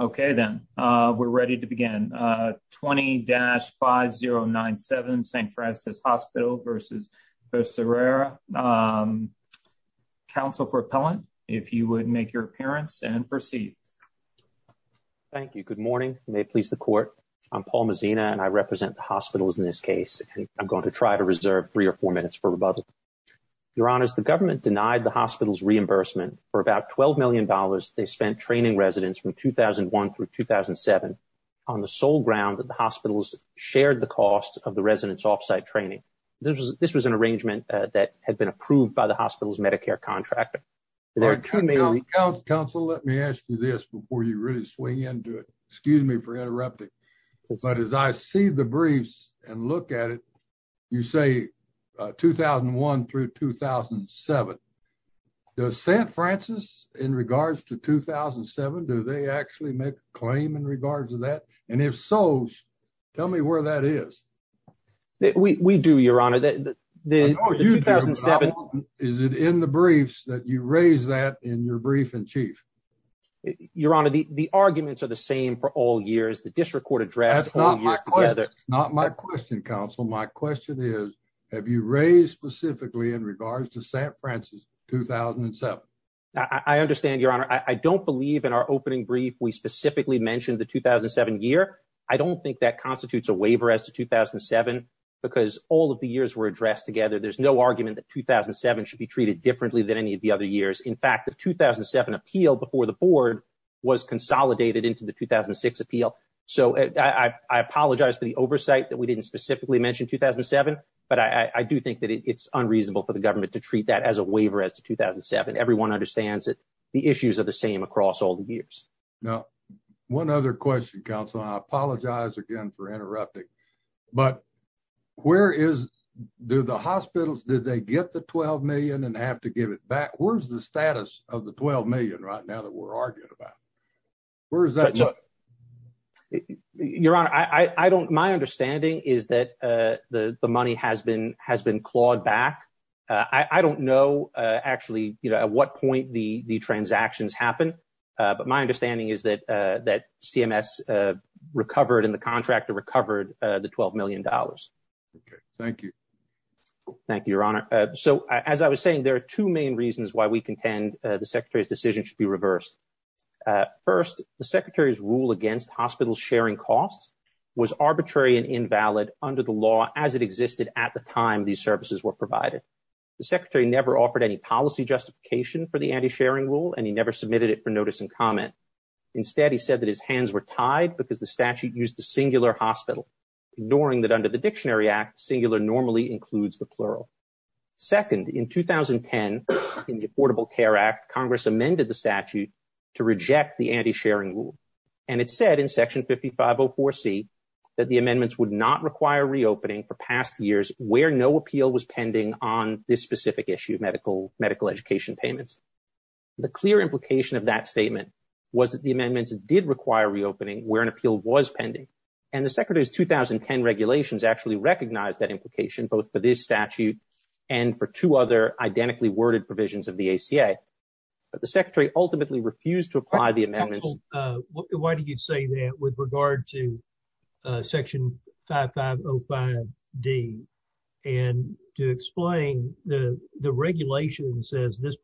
Okay then, we're ready to begin. 20-5097 St. Francis Hospital v. Becerra. Counsel for Appellant, if you would make your appearance and proceed. Thank you. Good morning. May it please the Court. I'm Paul Mezina and I represent the hospitals in this case and I'm going to try to reserve three or four minutes for rebuttal. Your Honors, the government denied the hospital's reimbursement for about $12 million they spent training residents from 2001 through 2007 on the sole ground that the hospitals shared the cost of the residents off-site training. This was an arrangement that had been approved by the hospital's Medicare contractor. Counsel, let me ask you this before you really swing into it, excuse me for interrupting, but as I see the briefs and look at it you say 2001 through 2007. Does St. Francis in regards to 2007, do they actually make a claim in regards to that? And if so, tell me where that is. We do, Your Honor. Is it in the briefs that you raise that in your brief in chief? Your Honor, the arguments are the same for all years. The district court That's not my question, Counsel. My question is, have you raised specifically in regards to St. Francis 2007? I understand, Your Honor. I don't believe in our opening brief we specifically mentioned the 2007 year. I don't think that constitutes a waiver as to 2007 because all of the years were addressed together. There's no argument that 2007 should be treated differently than any of the other years. In fact, the I apologize for the oversight that we didn't specifically mention 2007, but I do think that it's unreasonable for the government to treat that as a waiver as to 2007. Everyone understands that the issues are the same across all the years. Now, one other question, Counsel. I apologize again for interrupting, but where is, do the hospitals, did they get the 12 million and have to give it back? Where's the status of the 12 million right now that we're arguing about? Where is that money? Your Honor, my understanding is that the money has been clawed back. I don't know actually at what point the transactions happened, but my understanding is that CMS recovered and the contractor recovered the 12 million dollars. Okay, thank you. Thank you, Your Honor. So as I was saying, there are two main reasons why we contend the Secretary's decision should be reversed. First, the Secretary's rule against hospital sharing costs was arbitrary and invalid under the law as it existed at the time these services were provided. The Secretary never offered any policy justification for the anti-sharing rule and he never submitted it for notice and comment. Instead, he said that his hands were tied because statute used the singular hospital, ignoring that under the Dictionary Act, singular normally includes the plural. Second, in 2010, in the Affordable Care Act, Congress amended the statute to reject the anti-sharing rule and it said in Section 5504C that the amendments would not require reopening for past years where no appeal was pending on this specific issue of medical education payments. The clear implication of that statement was that the amendments did require reopening where an appeal was pending and the Secretary's 2010 regulations actually recognized that implication both for this statute and for two other identically worded provisions of the ACA, but the Secretary ultimately refused to apply the amendments. Why do you say that with regard to Section 5505D and to explain the regulation that says this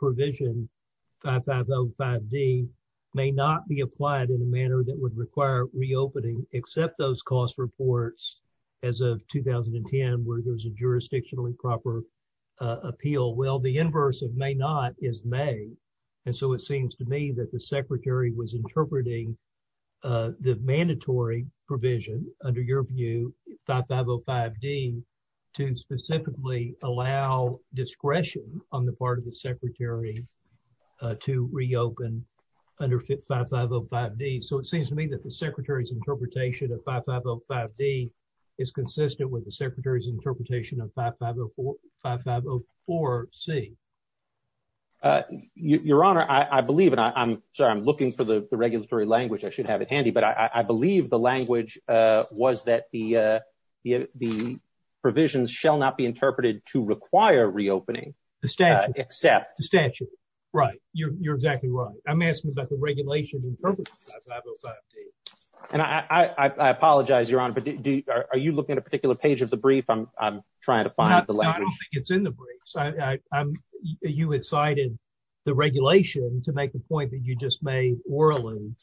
would require reopening except those cost reports as of 2010 where there's a jurisdictionally proper appeal? Well, the inverse of may not is may and so it seems to me that the Secretary was interpreting the mandatory provision under your view, 5505D, to specifically allow discretion on the part of the Secretary to reopen under 5505D. So it seems to me that the Secretary's interpretation of 5505D is consistent with the Secretary's interpretation of 5504C. Your Honor, I believe and I'm sorry I'm looking for the regulatory language I should have at handy, but I believe the language was that the provisions shall not be interpreted to require reopening. The statute. The statute, right. You're exactly right. I'm asking about the regulation interpreted by 5505D. And I apologize, Your Honor, but are you looking at a particular page of the brief? I'm trying to find the language. No, I don't think it's in the briefs. You had cited the regulation to make the point that you just made orally,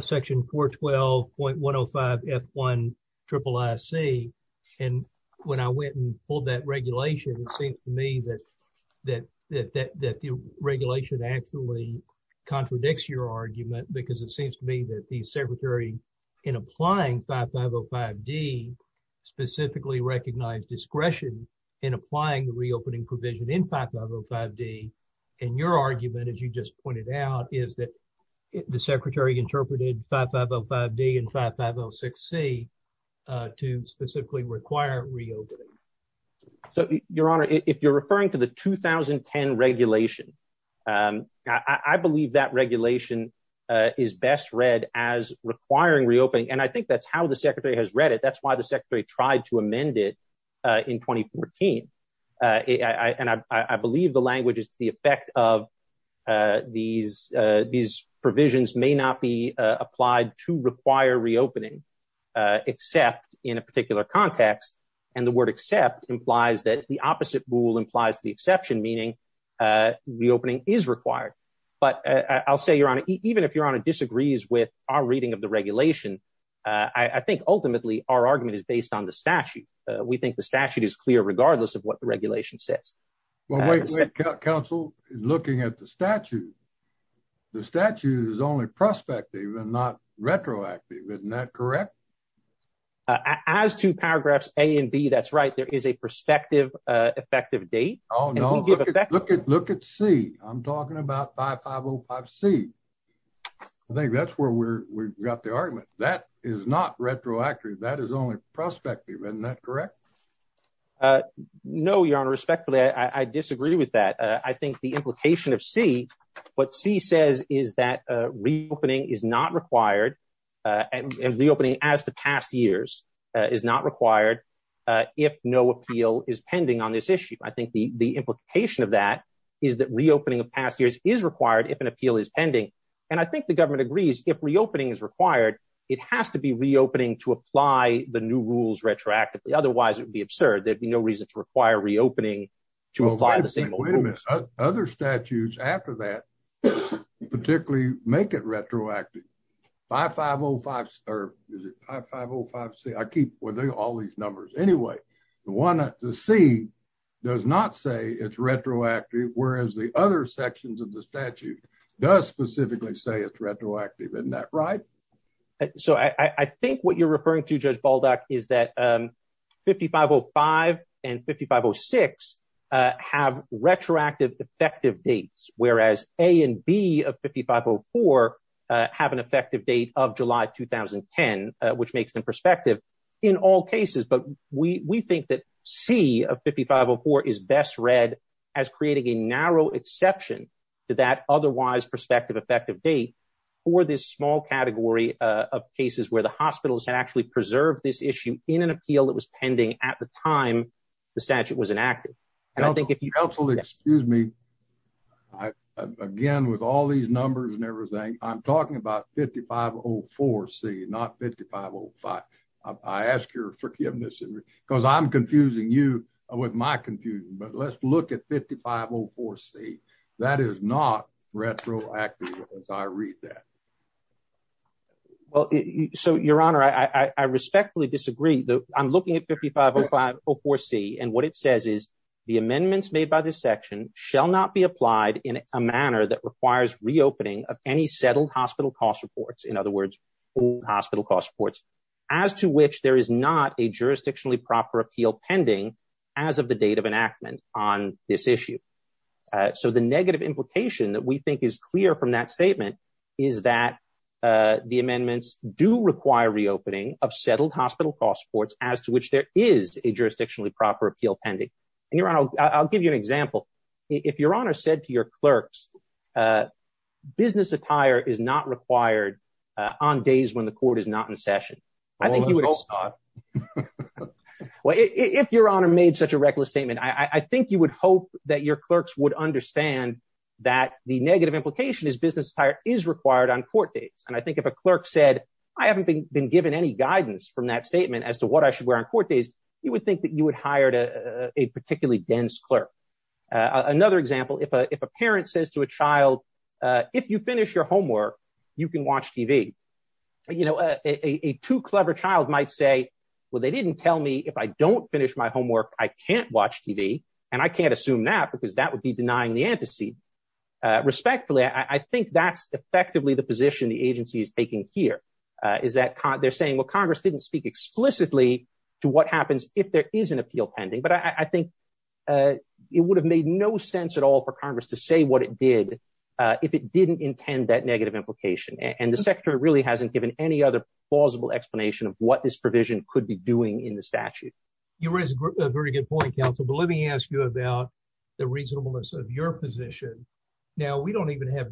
Section 412.105F1 IIIC. And when I went and pulled that regulation, it seems to me that the regulation actually contradicts your argument because it seems to me that the Secretary in applying 5505D specifically recognized discretion in applying the reopening provision in 5505D. And your argument, as you just pointed out, is that the Secretary interpreted 5505D and 5506C to specifically require reopening. So, Your Honor, if you're referring to the 2010 regulation, I believe that regulation is best read as requiring reopening. And I think that's how the Secretary has read it. That's why the Secretary tried to amend it in 2014. And I believe the effect of these provisions may not be applied to require reopening except in a particular context. And the word except implies that the opposite rule implies the exception, meaning reopening is required. But I'll say, Your Honor, even if Your Honor disagrees with our reading of the regulation, I think ultimately our argument is based on the statute. We think the statute is clear regardless of what the regulation says. Well, wait, wait, counsel. Looking at the statute, the statute is only prospective and not retroactive. Isn't that correct? As to paragraphs A and B, that's right. There is a prospective effective date. Oh, no. Look at C. I'm talking about 5505C. I think that's where we got the argument. That is not retroactive. That is only prospective. Isn't that correct? No, Your Honor. Respectfully, I disagree with that. I think the implication of C, what C says is that reopening is not required and reopening as to past years is not required if no appeal is pending on this issue. I think the implication of that is that reopening of past years is required if an appeal is pending. And I think the government agrees if reopening is required, it has to be reopening to apply the new rules retroactively. Otherwise, it would be absurd. There'd be no reason to require reopening to apply the same old rules. Other statutes after that particularly make it retroactive. 5505C, I keep all these numbers. Anyway, the C does not say it's retroactive, whereas the other sections of the statute does specifically say it's retroactive. Isn't that right? So I think what you're referring to, Judge Baldock, is that 5505 and 5506 have retroactive effective dates, whereas A and B of 5504 have an effective date of July 2010, which makes them prospective in all cases. But we think that C of 5504 is best read as creating a narrow exception to that otherwise prospective effective date for this small category of cases where the hospitals had actually preserved this issue in an appeal that was pending at the time the statute was enacted. Counsel, excuse me. Again, with all these numbers and everything, I'm talking about 5504C, not 5505. I ask your forgiveness, because I'm confusing you with my confusion. But let's look at 5504C. That is not retroactive as I read that. Well, so, Your Honor, I respectfully disagree. I'm looking at 5504C, and what it says is, the amendments made by this section shall not be applied in a manner that requires reopening of any settled hospital cost reports, in other words, old hospital cost reports, as to which there is not a jurisdictionally proper appeal pending as of the date of enactment on this issue. So the negative implication that we think is clear from that statement is that the amendments do require reopening of settled hospital cost reports as to which there is a jurisdictionally proper appeal pending. And Your Honor, I'll give you an example. If Your Honor said to your clerks, business attire is not required on days when the court is not in session, I think you would have stopped. Well, if Your Honor made such a reckless statement, I think you would hope that your clerks would understand that the negative implication is business attire is required on court dates. And I think if a clerk said, I haven't been given any guidance from that statement as to what I should wear on court days, you would think that you would hire a particularly dense clerk. Another example, if a parent says to a child, if you finish your homework, you can might say, well, they didn't tell me if I don't finish my homework, I can't watch TV. And I can't assume that because that would be denying the antecedent. Respectfully, I think that's effectively the position the agency is taking here is that they're saying, well, Congress didn't speak explicitly to what happens if there is an appeal pending. But I think it would have made no sense at all for Congress to say what it did if it didn't intend that negative implication. And the of what this provision could be doing in the statute. You raise a very good point, counsel. But let me ask you about the reasonableness of your position. Now, we don't even have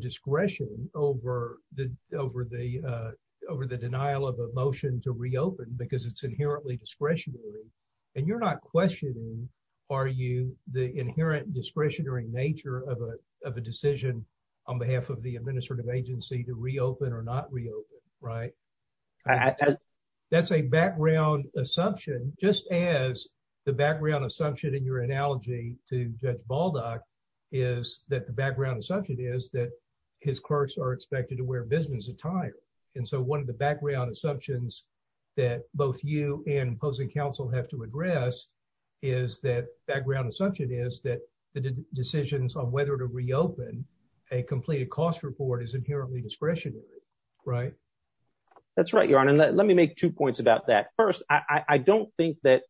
discretion over the denial of a motion to reopen because it's inherently discretionary. And you're not questioning, are you the inherent discretionary nature of a decision on behalf of the administrative agency to reopen or not reopen, right? As that's a background assumption, just as the background assumption in your analogy to Judge Baldock is that the background assumption is that his clerks are expected to wear business attire. And so one of the background assumptions that both you and opposing counsel have to address is that background assumption is that the decisions on whether to reopen a completed cost report is inherently discretionary, right? That's right, Your Honor. Let me make two points about that. First, I don't think that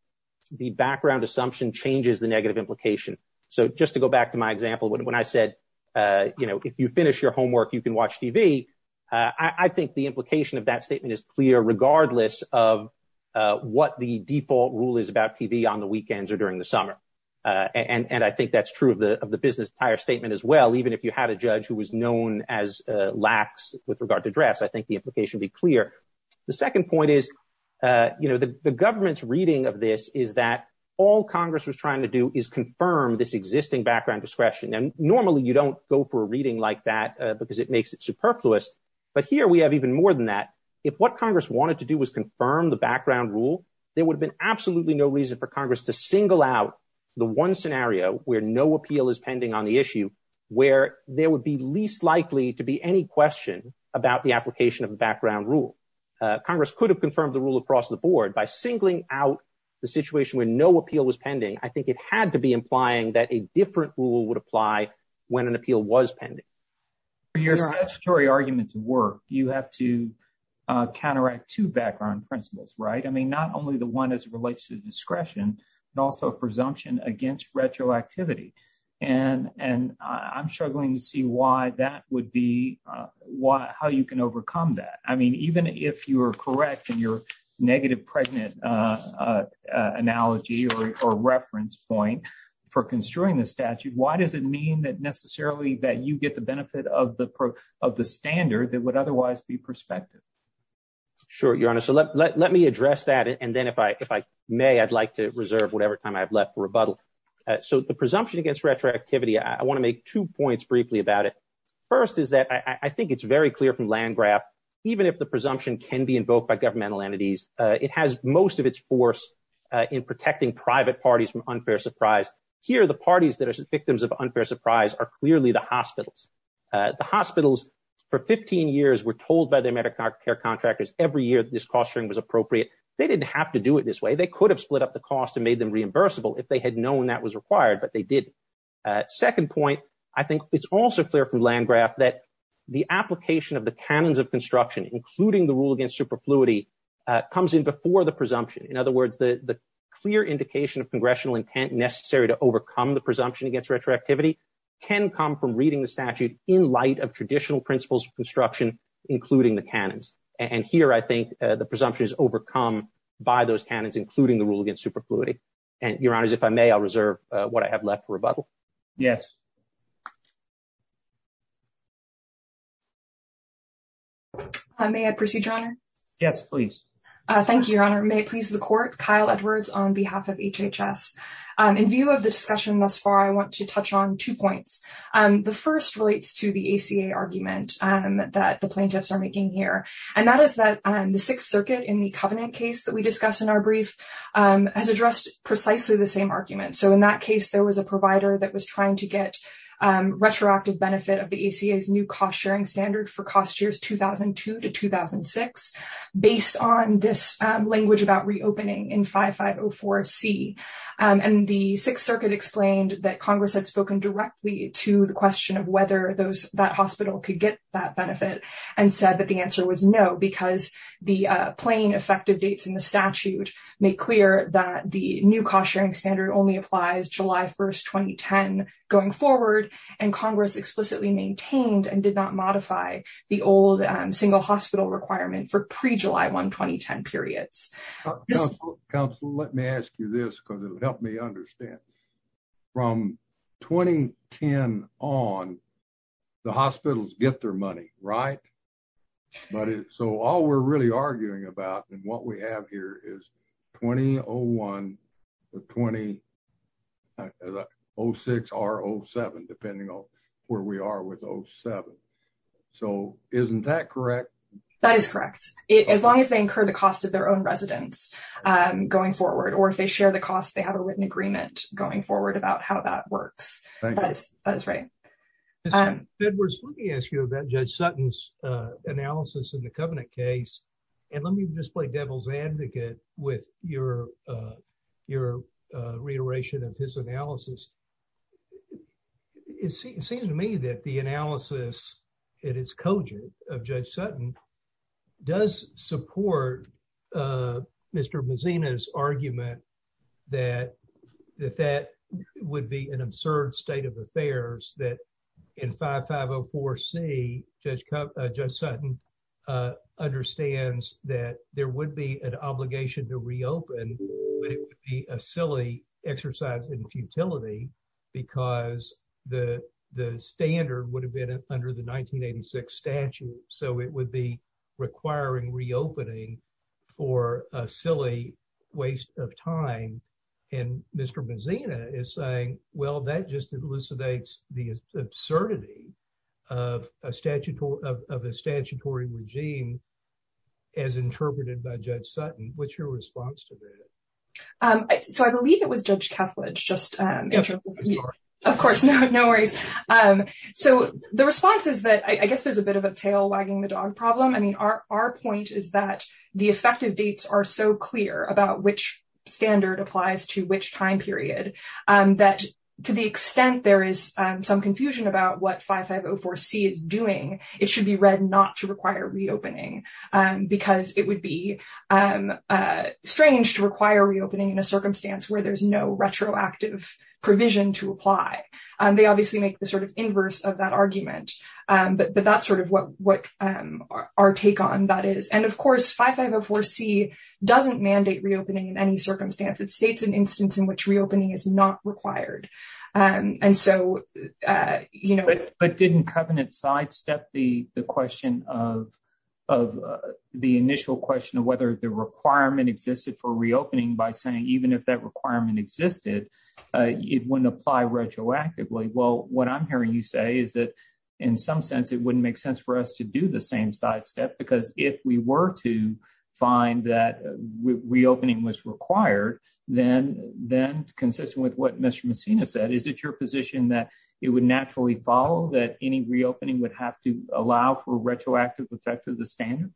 the background assumption changes the negative implication. So just to go back to my example, when I said, you know, if you finish your homework, you can watch TV. I think the implication of that statement is clear, regardless of what the default rule is about TV on the weekends or during the summer. And I think that's true of the business attire statement as well. Even if you had a judge who was known as lax with regard to dress, I think the implication be clear. The second point is, you know, the government's reading of this is that all Congress was trying to do is confirm this existing background discretion. And normally you don't go for a reading like that because it makes it superfluous. But here we have even more than that. If what Congress wanted to do was confirm the background rule, there would have been absolutely no reason for Congress to single out the one scenario where no appeal is pending on the issue, where there would be least likely to be any question about the application of a background rule. Congress could have confirmed the rule across the board by singling out the situation where no appeal was pending. I think it had to be implying that a different rule would apply when an appeal was pending. Your statutory arguments work. You have to counteract two background principles, right? I mean, not only the one as it relates to discretion, but also a presumption against retroactivity. And I'm struggling to see why that would be how you can overcome that. I mean, even if you are correct in your negative pregnant analogy or reference point for construing the statute, why does it mean that necessarily that you get the benefit of the standard that would otherwise be prospective? Sure, Your Honor. So let me address that. And then if I may, I'd like to reserve whatever time I've left for rebuttal. So the presumption against retroactivity, I want to make two points briefly about it. First is that I think it's very clear from Landgraf, even if the presumption can be invoked by governmental entities, it has most of its force in protecting private parties from unfair surprise. Here, the parties that are victims of unfair surprise are hospitals. For 15 years, we're told by their Medicare contractors every year that this cost sharing was appropriate. They didn't have to do it this way. They could have split up the cost and made them reimbursable if they had known that was required, but they didn't. Second point, I think it's also clear from Landgraf that the application of the canons of construction, including the rule against superfluity, comes in before the presumption. In other words, the clear indication of congressional intent necessary to overcome the presumption against retroactivity can come from reading the statute in light of traditional principles of construction, including the canons. And here, I think the presumption is overcome by those canons, including the rule against superfluity. And Your Honor, if I may, I'll reserve what I have left for rebuttal. Yes. May I proceed, Your Honor? Yes, please. Thank you, Your Honor. May it please the court. Kyle Edwards on behalf of HHS. In view of the discussion thus far, I want to touch on two points. The first relates to the ACA argument that the plaintiffs are making here. And that is that the Sixth Circuit in the Covenant case that we discussed in our brief has addressed precisely the same argument. So in that case, there was a provider that was trying to get retroactive benefit of the ACA's new cost-sharing standard for cost years 2002 to 2006 based on this language about reopening in 5504C. And the Sixth Circuit explained that Congress had spoken directly to the question of whether that hospital could get that benefit and said that the answer was no, because the plain effective dates in the statute make clear that the new cost-sharing standard only applies July 1st, 2010 going forward. And Congress explicitly maintained and did not modify the old single hospital requirement for pre-July 1, 2010 periods. Counselor, let me ask you this because it would help me understand. From 2010 on, the hospitals get their money, right? But so all we're really arguing about and what we have here is 2001 to 2006 or 07, depending on where we are with 07. So isn't that correct? That is correct. As long as they incur the cost of their own residence going forward, or if they share the cost, they have a written agreement going forward about how that works. Thank you. That is right. Edwards, let me ask you about Judge Sutton's analysis in the Covenant case. And let me just play devil's advocate with your reiteration of his analysis. It seems to me that the analysis in its cogent of Judge Sutton does support Mr. Mazina's argument that that would be an absurd state of affairs that in 5504C, Judge Sutton understands that there would be an obligation to reopen, but it would be a silly exercise in futility because the standard would have been under the 1986 statute. So it would be requiring reopening for a silly waste of time. And Mr. Mazina just elucidates the absurdity of a statutory regime as interpreted by Judge Sutton. What's your response to that? So I believe it was Judge Kethledge just interpreted. Yes, I'm sorry. Of course, no worries. So the response is that I guess there's a bit of a tail wagging the dog problem. I mean, our point is that the effective dates are so clear about which standard applies to which time period, that to the extent there is some confusion about what 5504C is doing, it should be read not to require reopening, because it would be strange to require reopening in a circumstance where there's no retroactive provision to apply. They obviously make the sort of inverse of that argument. But that's sort of what our take on that is. And of course, 5504C doesn't mandate reopening in any circumstance. It states an instance in which reopening is not required. And so, you know... But didn't Covenant sidestep the question of the initial question of whether the requirement existed for reopening by saying, even if that requirement existed, it wouldn't apply retroactively? Well, what I'm hearing you say is that, in some sense, it wouldn't make sense for us to do the finding that reopening was required, then consistent with what Mr. Messina said, is it your position that it would naturally follow that any reopening would have to allow for retroactive effect of the standard?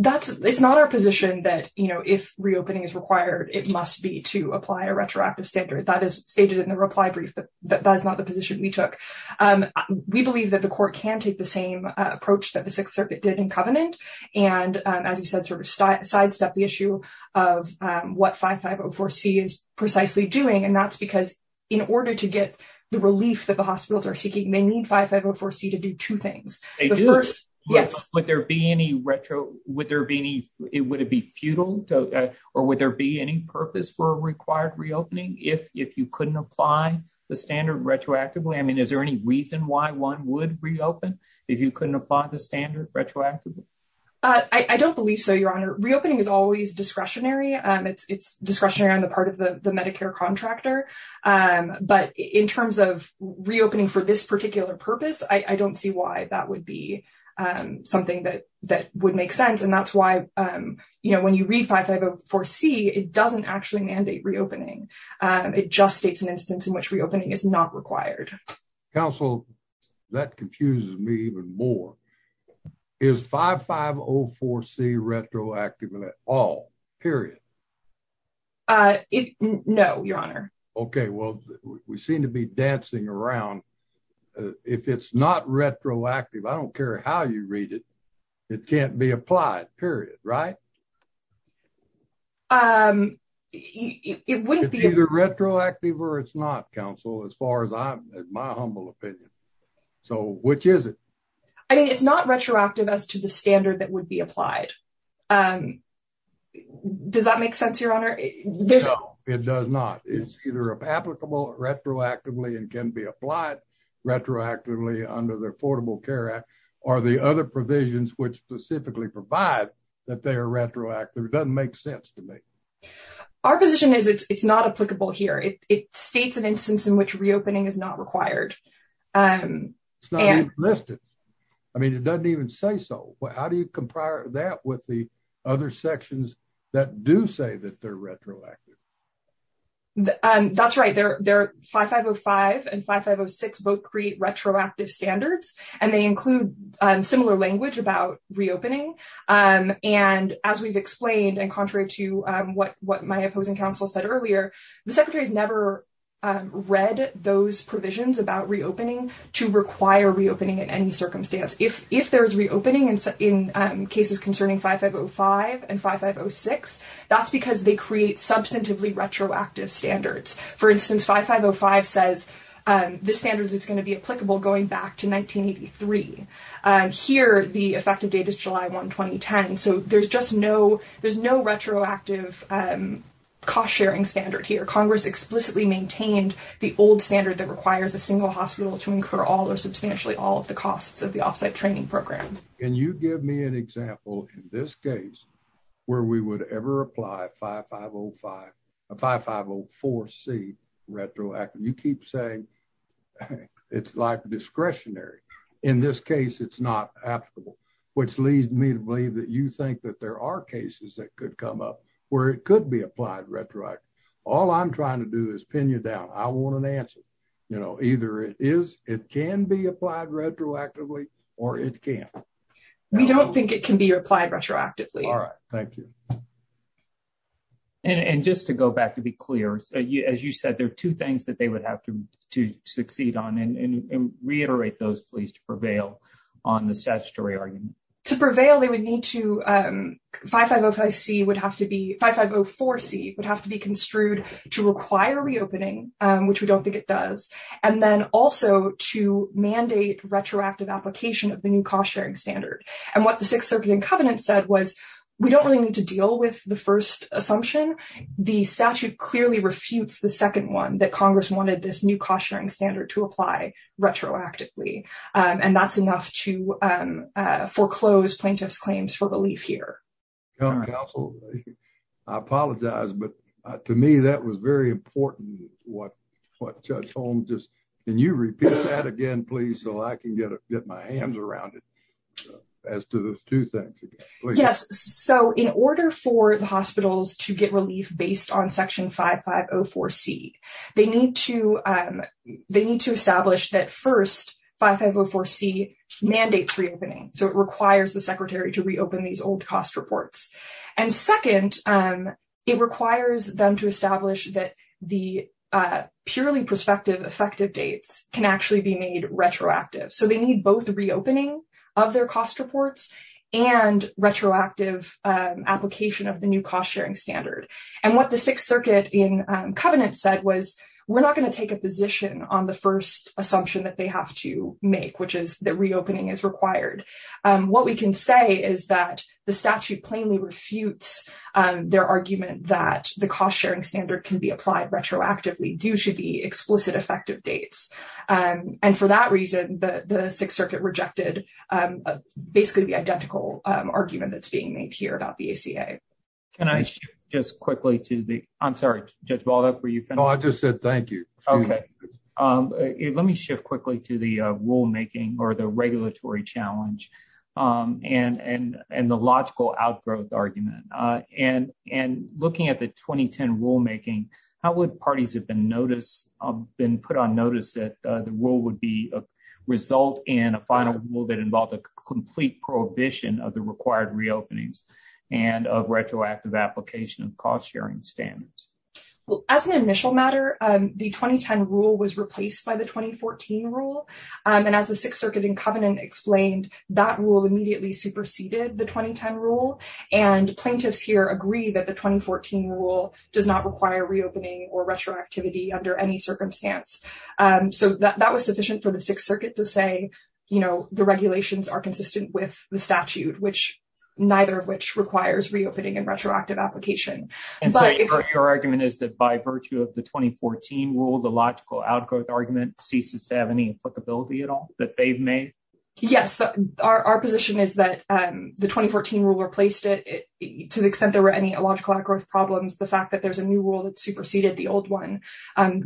It's not our position that, you know, if reopening is required, it must be to apply a retroactive standard. That is stated in the reply brief, but that is not the position we took. We believe that the Court can take the same approach that Sixth Circuit did in Covenant and, as you said, sort of sidestep the issue of what 5504C is precisely doing. And that's because, in order to get the relief that the hospitals are seeking, they need 5504C to do two things. They do. The first... Yes. Would there be any retro... Would there be any... Would it be futile or would there be any purpose for a required reopening if you couldn't apply the standard retroactively? I mean, any reason why one would reopen if you couldn't apply the standard retroactively? I don't believe so, Your Honor. Reopening is always discretionary. It's discretionary on the part of the Medicare contractor. But in terms of reopening for this particular purpose, I don't see why that would be something that would make sense. And that's why, you know, when you read 5504C, it doesn't actually mandate reopening. It just states an instance in which reopening is not required. Counsel, that confuses me even more. Is 5504C retroactive at all, period? No, Your Honor. Okay. Well, we seem to be dancing around. If it's not retroactive, I don't care how you read it, it can't be applied, period, right? It wouldn't be... It's either retroactive or it's not, as far as my humble opinion. So, which is it? I mean, it's not retroactive as to the standard that would be applied. Does that make sense, Your Honor? No, it does not. It's either applicable retroactively and can be applied retroactively under the Affordable Care Act, or the other provisions which specifically provide that they are retroactive. It doesn't make sense to me. Our position is it's not applicable here. It states an instance in which reopening is not required. It's not even listed. I mean, it doesn't even say so. How do you compare that with the other sections that do say that they're retroactive? That's right. 5505 and 5506 both create retroactive standards, and they include similar language about reopening. And as we've explained, and contrary to what my opposing counsel said earlier, the Secretary has never read those provisions about reopening to require reopening in any circumstance. If there's reopening in cases concerning 5505 and 5506, that's because they create substantively retroactive standards. For instance, 5505 says the standards it's going to be applicable going back to 1983. Here, the effective date is July 1, 2010. So there's just no there's no retroactive cost-sharing standard here. Congress explicitly maintained the old standard that requires a single hospital to incur all or substantially all of the costs of the off-site training program. Can you give me an example in this case where we would ever apply 5505, 5504C retroactively? You keep saying it's discretionary. In this case, it's not applicable, which leads me to believe that you think that there are cases that could come up where it could be applied retroactively. All I'm trying to do is pin you down. I want an answer. Either it can be applied retroactively, or it can't. We don't think it can be To go back to be clear, as you said, there are two things that they would have to succeed on, and reiterate those, please, to prevail on the statutory argument. To prevail, they would need to 5505C would have to be, 5504C would have to be construed to require reopening, which we don't think it does, and then also to mandate retroactive application of the new cost-sharing standard. And what the Sixth Circuit and Covenant said was, we don't really need to deal with the first assumption. The statute clearly refutes the second one, that Congress wanted this new cost-sharing standard to apply retroactively, and that's enough to foreclose plaintiff's claims for relief here. Counsel, I apologize, but to me, that was very important, what Judge Holmes just, can you repeat that again, please, so I can get my hands around it, as to those two things. Yes, so in order for the hospitals to get relief based on section 5504C, they need to, they need to establish that first, 5504C mandates reopening, so it requires the Secretary to reopen these old cost reports, and second, it requires them to establish that the purely prospective effective dates can actually be made retroactive, so they need both reopening of their cost reports and retroactive application of the new cost-sharing standard. And what the Sixth Circuit and Covenant said was, we're not going to take a position on the first assumption that they have to make, which is that reopening is required. What we can say is that the statute plainly refutes their argument that the cost-sharing standard can be applied retroactively due to the explicit effective dates, and for that reason, the Sixth Circuit rejected basically the identical argument that's being made here about the ACA. Can I shift just quickly to the, I'm sorry, Judge Baldock, were you finished? No, I just said thank you. Okay, let me shift quickly to the rulemaking, or the regulatory challenge, and the logical outgrowth argument, and looking at the notice that the rule would be a result in a final rule that involved a complete prohibition of the required reopenings and of retroactive application of cost-sharing standards. Well, as an initial matter, the 2010 rule was replaced by the 2014 rule, and as the Sixth Circuit and Covenant explained, that rule immediately superseded the 2010 rule, and plaintiffs here agree that the 2014 rule does not require reopening or retroactivity under any circumstance. So that was sufficient for the Sixth Circuit to say, you know, the regulations are consistent with the statute, which neither of which requires reopening and retroactive application. And so your argument is that by virtue of the 2014 rule, the logical outgrowth argument ceases to have any applicability at all that they've made? Yes, our position is that the 2014 rule replaced it to the extent there were any illogical outgrowth problems. The fact that there's a new rule that superseded the old one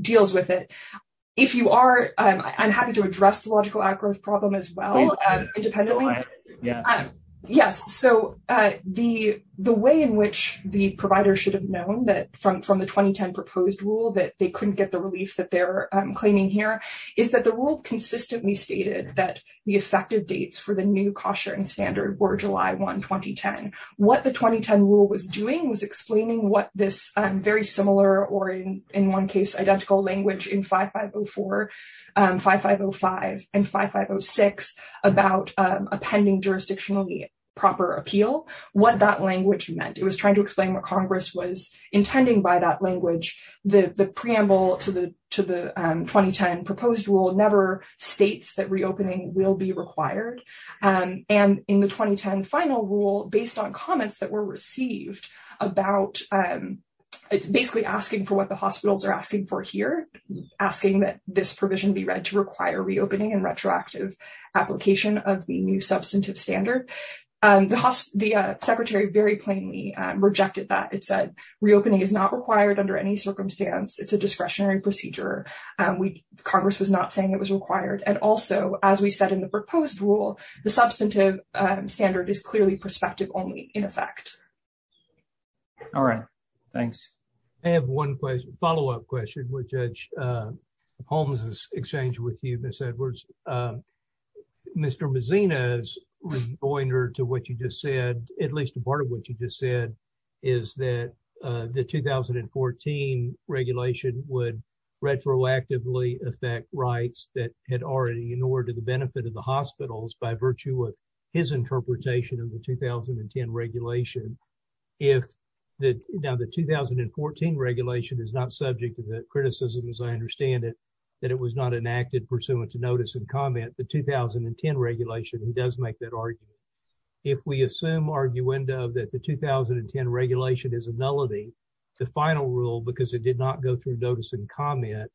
deals with it. If you are, I'm happy to address the logical outgrowth problem as well, independently. Yes, so the way in which the providers should have known that from the 2010 proposed rule that they couldn't get the relief that they're claiming here, is that the rule consistently stated that the effective dates for the new cost-sharing standard were July 1, 2010. What the 2010 rule was doing was explaining what this very similar, or in one case identical, language in 5504, 5505, and 5506 about a pending jurisdictionally proper appeal, what that language meant. It was trying to explain what Congress was intending by that language. The preamble to the 2010 proposed rule never states that reopening will be required. In the 2010 final rule, based on comments that were received about basically asking for what the hospitals are asking for here, asking that this provision be read to require reopening and retroactive application of the new substantive standard, the Secretary very plainly rejected that. It said reopening is not required under any circumstance. It's a discretionary procedure. Congress was not saying it was required. Also, as we said in the proposed rule, the substantive standard is clearly prospective only in effect. All right. Thanks. I have one follow-up question with Judge Holmes's exchange with you, Ms. Edwards. Mr. Mazzino's pointer to what you just said, at least a part of what you just said, is that the 2014 regulation would retroactively affect rights that had already in order to the benefit of the hospitals by virtue of his interpretation of the 2010 regulation. Now, the 2014 regulation is not subject to that criticism, as I understand it, that it was not enacted pursuant to notice and comment. The 2010 regulation, he does make that argument. If we assume arguendo that the 2010 regulation is a nullity, the final rule, because it did not go through notice and comment,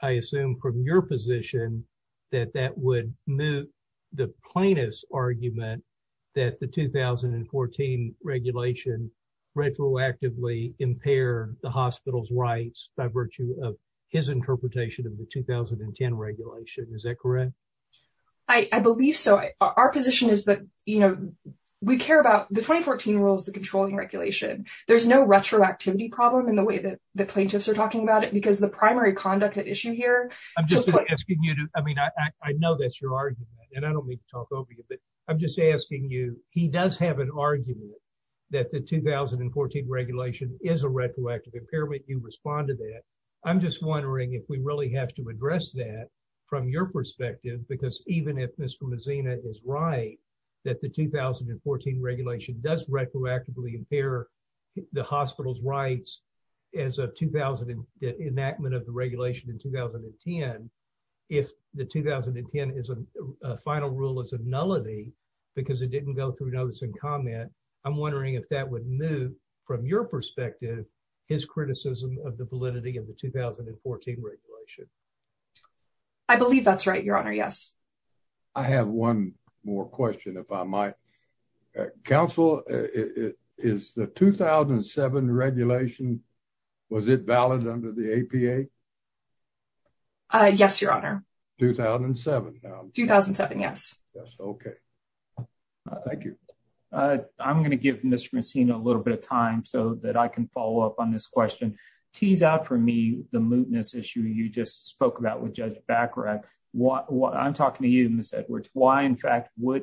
I assume from your position that that would move the plainest argument that the 2014 regulation retroactively impaired the hospital's rights by virtue of his interpretation of the 2010 regulation. Is that correct? I believe so. Our position is that we care about the 2014 rules, the controlling regulation. There's no retroactivity problem in the way that the plaintiffs are talking about it, because the primary conduct at issue here... I'm just asking you to... I mean, I know that's your argument, and I don't mean to talk over you, but I'm just asking you, he does have an argument that the 2014 regulation is a retroactive impairment. You respond to that. I'm just wondering if we really have to address that from your perspective, because even if Mr. Mazzino is right, that the 2014 regulation does retroactively impair the hospital's rights as of the enactment of the regulation in 2010, if the 2010 is a final rule as a nullity, because it didn't go through notice and comment, I'm wondering if that would move, from your perspective, his criticism of the validity of the 2014 regulation. I believe that's right, Your Honor. Yes. I have one more question, if I might. Counsel, is the 2007 regulation, was it valid under the APA? Yes, Your Honor. 2007 now? 2007, yes. Yes, okay. Thank you. I'm going to give Mr. Mazzino a little bit of time so that I can follow up on this question. Tease out for me the mootness issue you just spoke about with Judge Bacharach. I'm talking to you, Ms. Edwards. Why, in fact, would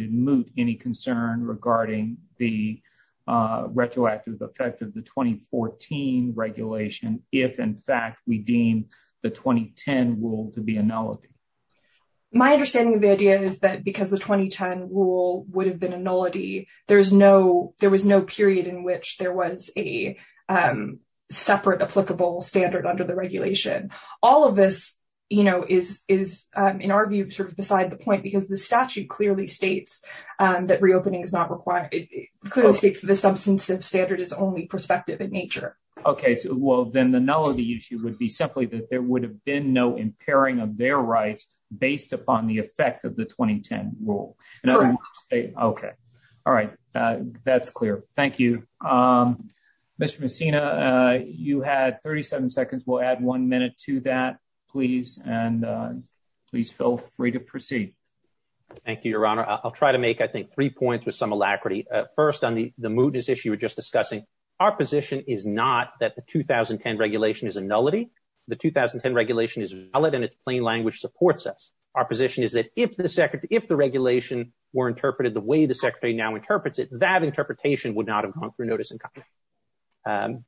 it moot any concern regarding the retroactive effect of the 2014 regulation if, in fact, we deem the 2010 rule to be a nullity? My understanding of the idea is that because the 2010 rule would have been a nullity, there was no period in which there was a separate applicable standard under the regulation. All of this is, in our view, beside the point because the statute clearly states that reopening is not required. It clearly states that the substantive standard is only prospective in nature. Okay, well, then the nullity issue would be simply that there would have been no impairing of their rights based upon the effect of the 2010 rule. Correct. Okay. All right. That's clear. Thank you. Mr. Mazzino, you had 37 seconds. We'll add one minute to that, please, and please feel free to proceed. Thank you, Your Honor. I'll try to make, I think, three points with some alacrity. First, on the mootness issue you were just discussing, our position is not that the 2010 regulation is a nullity. The 2010 regulation is a nullity and its plain language supports us. Our position is that if the regulation were interpreted the way the Secretary now interprets it, that interpretation would not have gone through notice in Congress.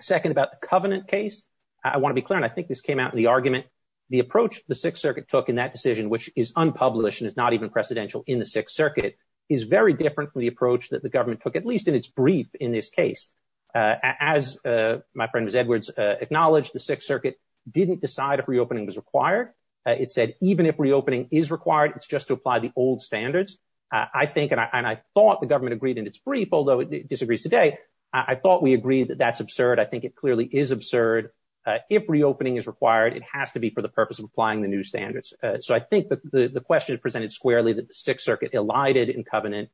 Second, about the Covenant case, I want to be clear, and I think this came out in the argument, the approach the Sixth Circuit took in that decision, which is unpublished and is not even precedential in the Sixth Circuit, is very different from the approach that the government took, at least in its brief, in this case. As my friend Ms. Edwards acknowledged, the Sixth Circuit didn't decide if reopening was required. It's just to apply the old standards. I think, and I thought the government agreed in its brief, although it disagrees today, I thought we agreed that that's absurd. I think it clearly is absurd. If reopening is required, it has to be for the purpose of applying the new standards. So I think the question presented squarely that the Sixth Circuit elided in Covenant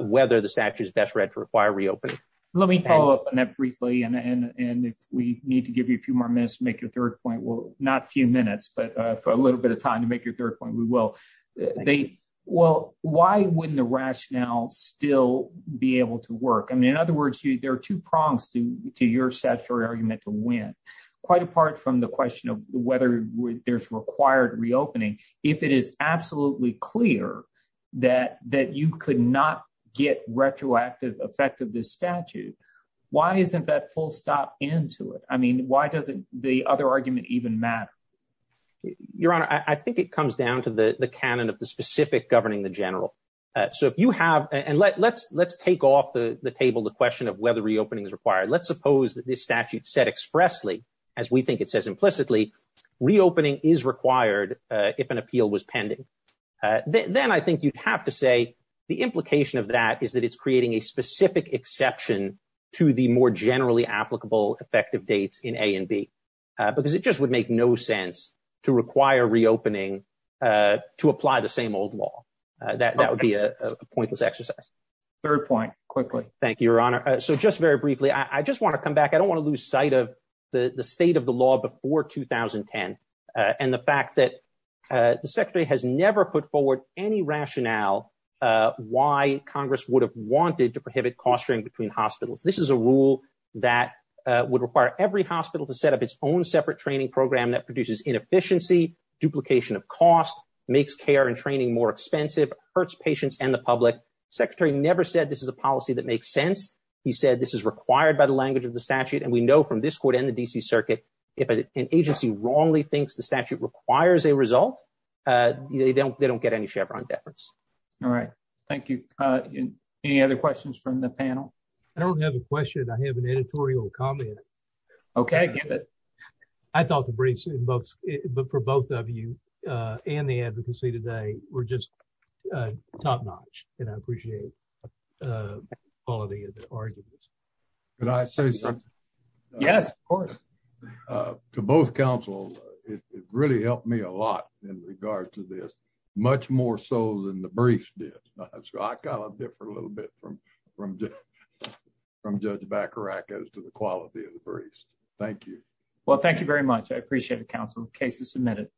whether the statute is best read to require reopening. Let me follow up on that briefly, and if we need to give you a few more minutes to make your third point, we will. Well, why wouldn't the rationale still be able to work? In other words, there are two prongs to your statutory argument to win, quite apart from the question of whether there's required reopening. If it is absolutely clear that you could not get retroactive effect of this statute, why isn't that full stop into it? I mean, why doesn't the other argument even matter? Your Honor, I think it comes down to the canon of the specific governing the general. So if you have, and let's take off the table the question of whether reopening is required. Let's suppose that this statute said expressly, as we think it says implicitly, reopening is required if an appeal was pending. Then I think you'd have to say the implication of that is that it's creating a specific exception to the more generally applicable effective dates in A and B, because it just would make no sense to require reopening to apply the same old law. That would be a pointless exercise. Third point, quickly. Thank you, Your Honor. So just very briefly, I just want to come back. I don't want to lose sight of the state of the law before 2010, and the fact that the Secretary has never put forward any rationale why Congress would have wanted to prohibit cost sharing between hospitals. This is a rule that would require every hospital to set up its own separate training program that produces inefficiency, duplication of cost, makes care and training more expensive, hurts patients and the public. Secretary never said this is a policy that makes sense. He said this is required by the language of the statute. And we know from this court and the DC Circuit, if an agency wrongly thinks the statute requires a result, they don't get any Chevron deference. All right. Thank you. Any other questions from the panel? I don't have a question. I have an editorial comment. Okay, give it. I thought the briefs for both of you and the advocacy today were just top notch, and I appreciate the quality of the arguments. Can I say something? Yes, of course. To both counsel, it really helped me a lot in regards to this, much more so than the briefs I got a different little bit from Judge Bacarachas to the quality of the briefs. Thank you. Well, thank you very much. I appreciate it, counsel. Case is submitted.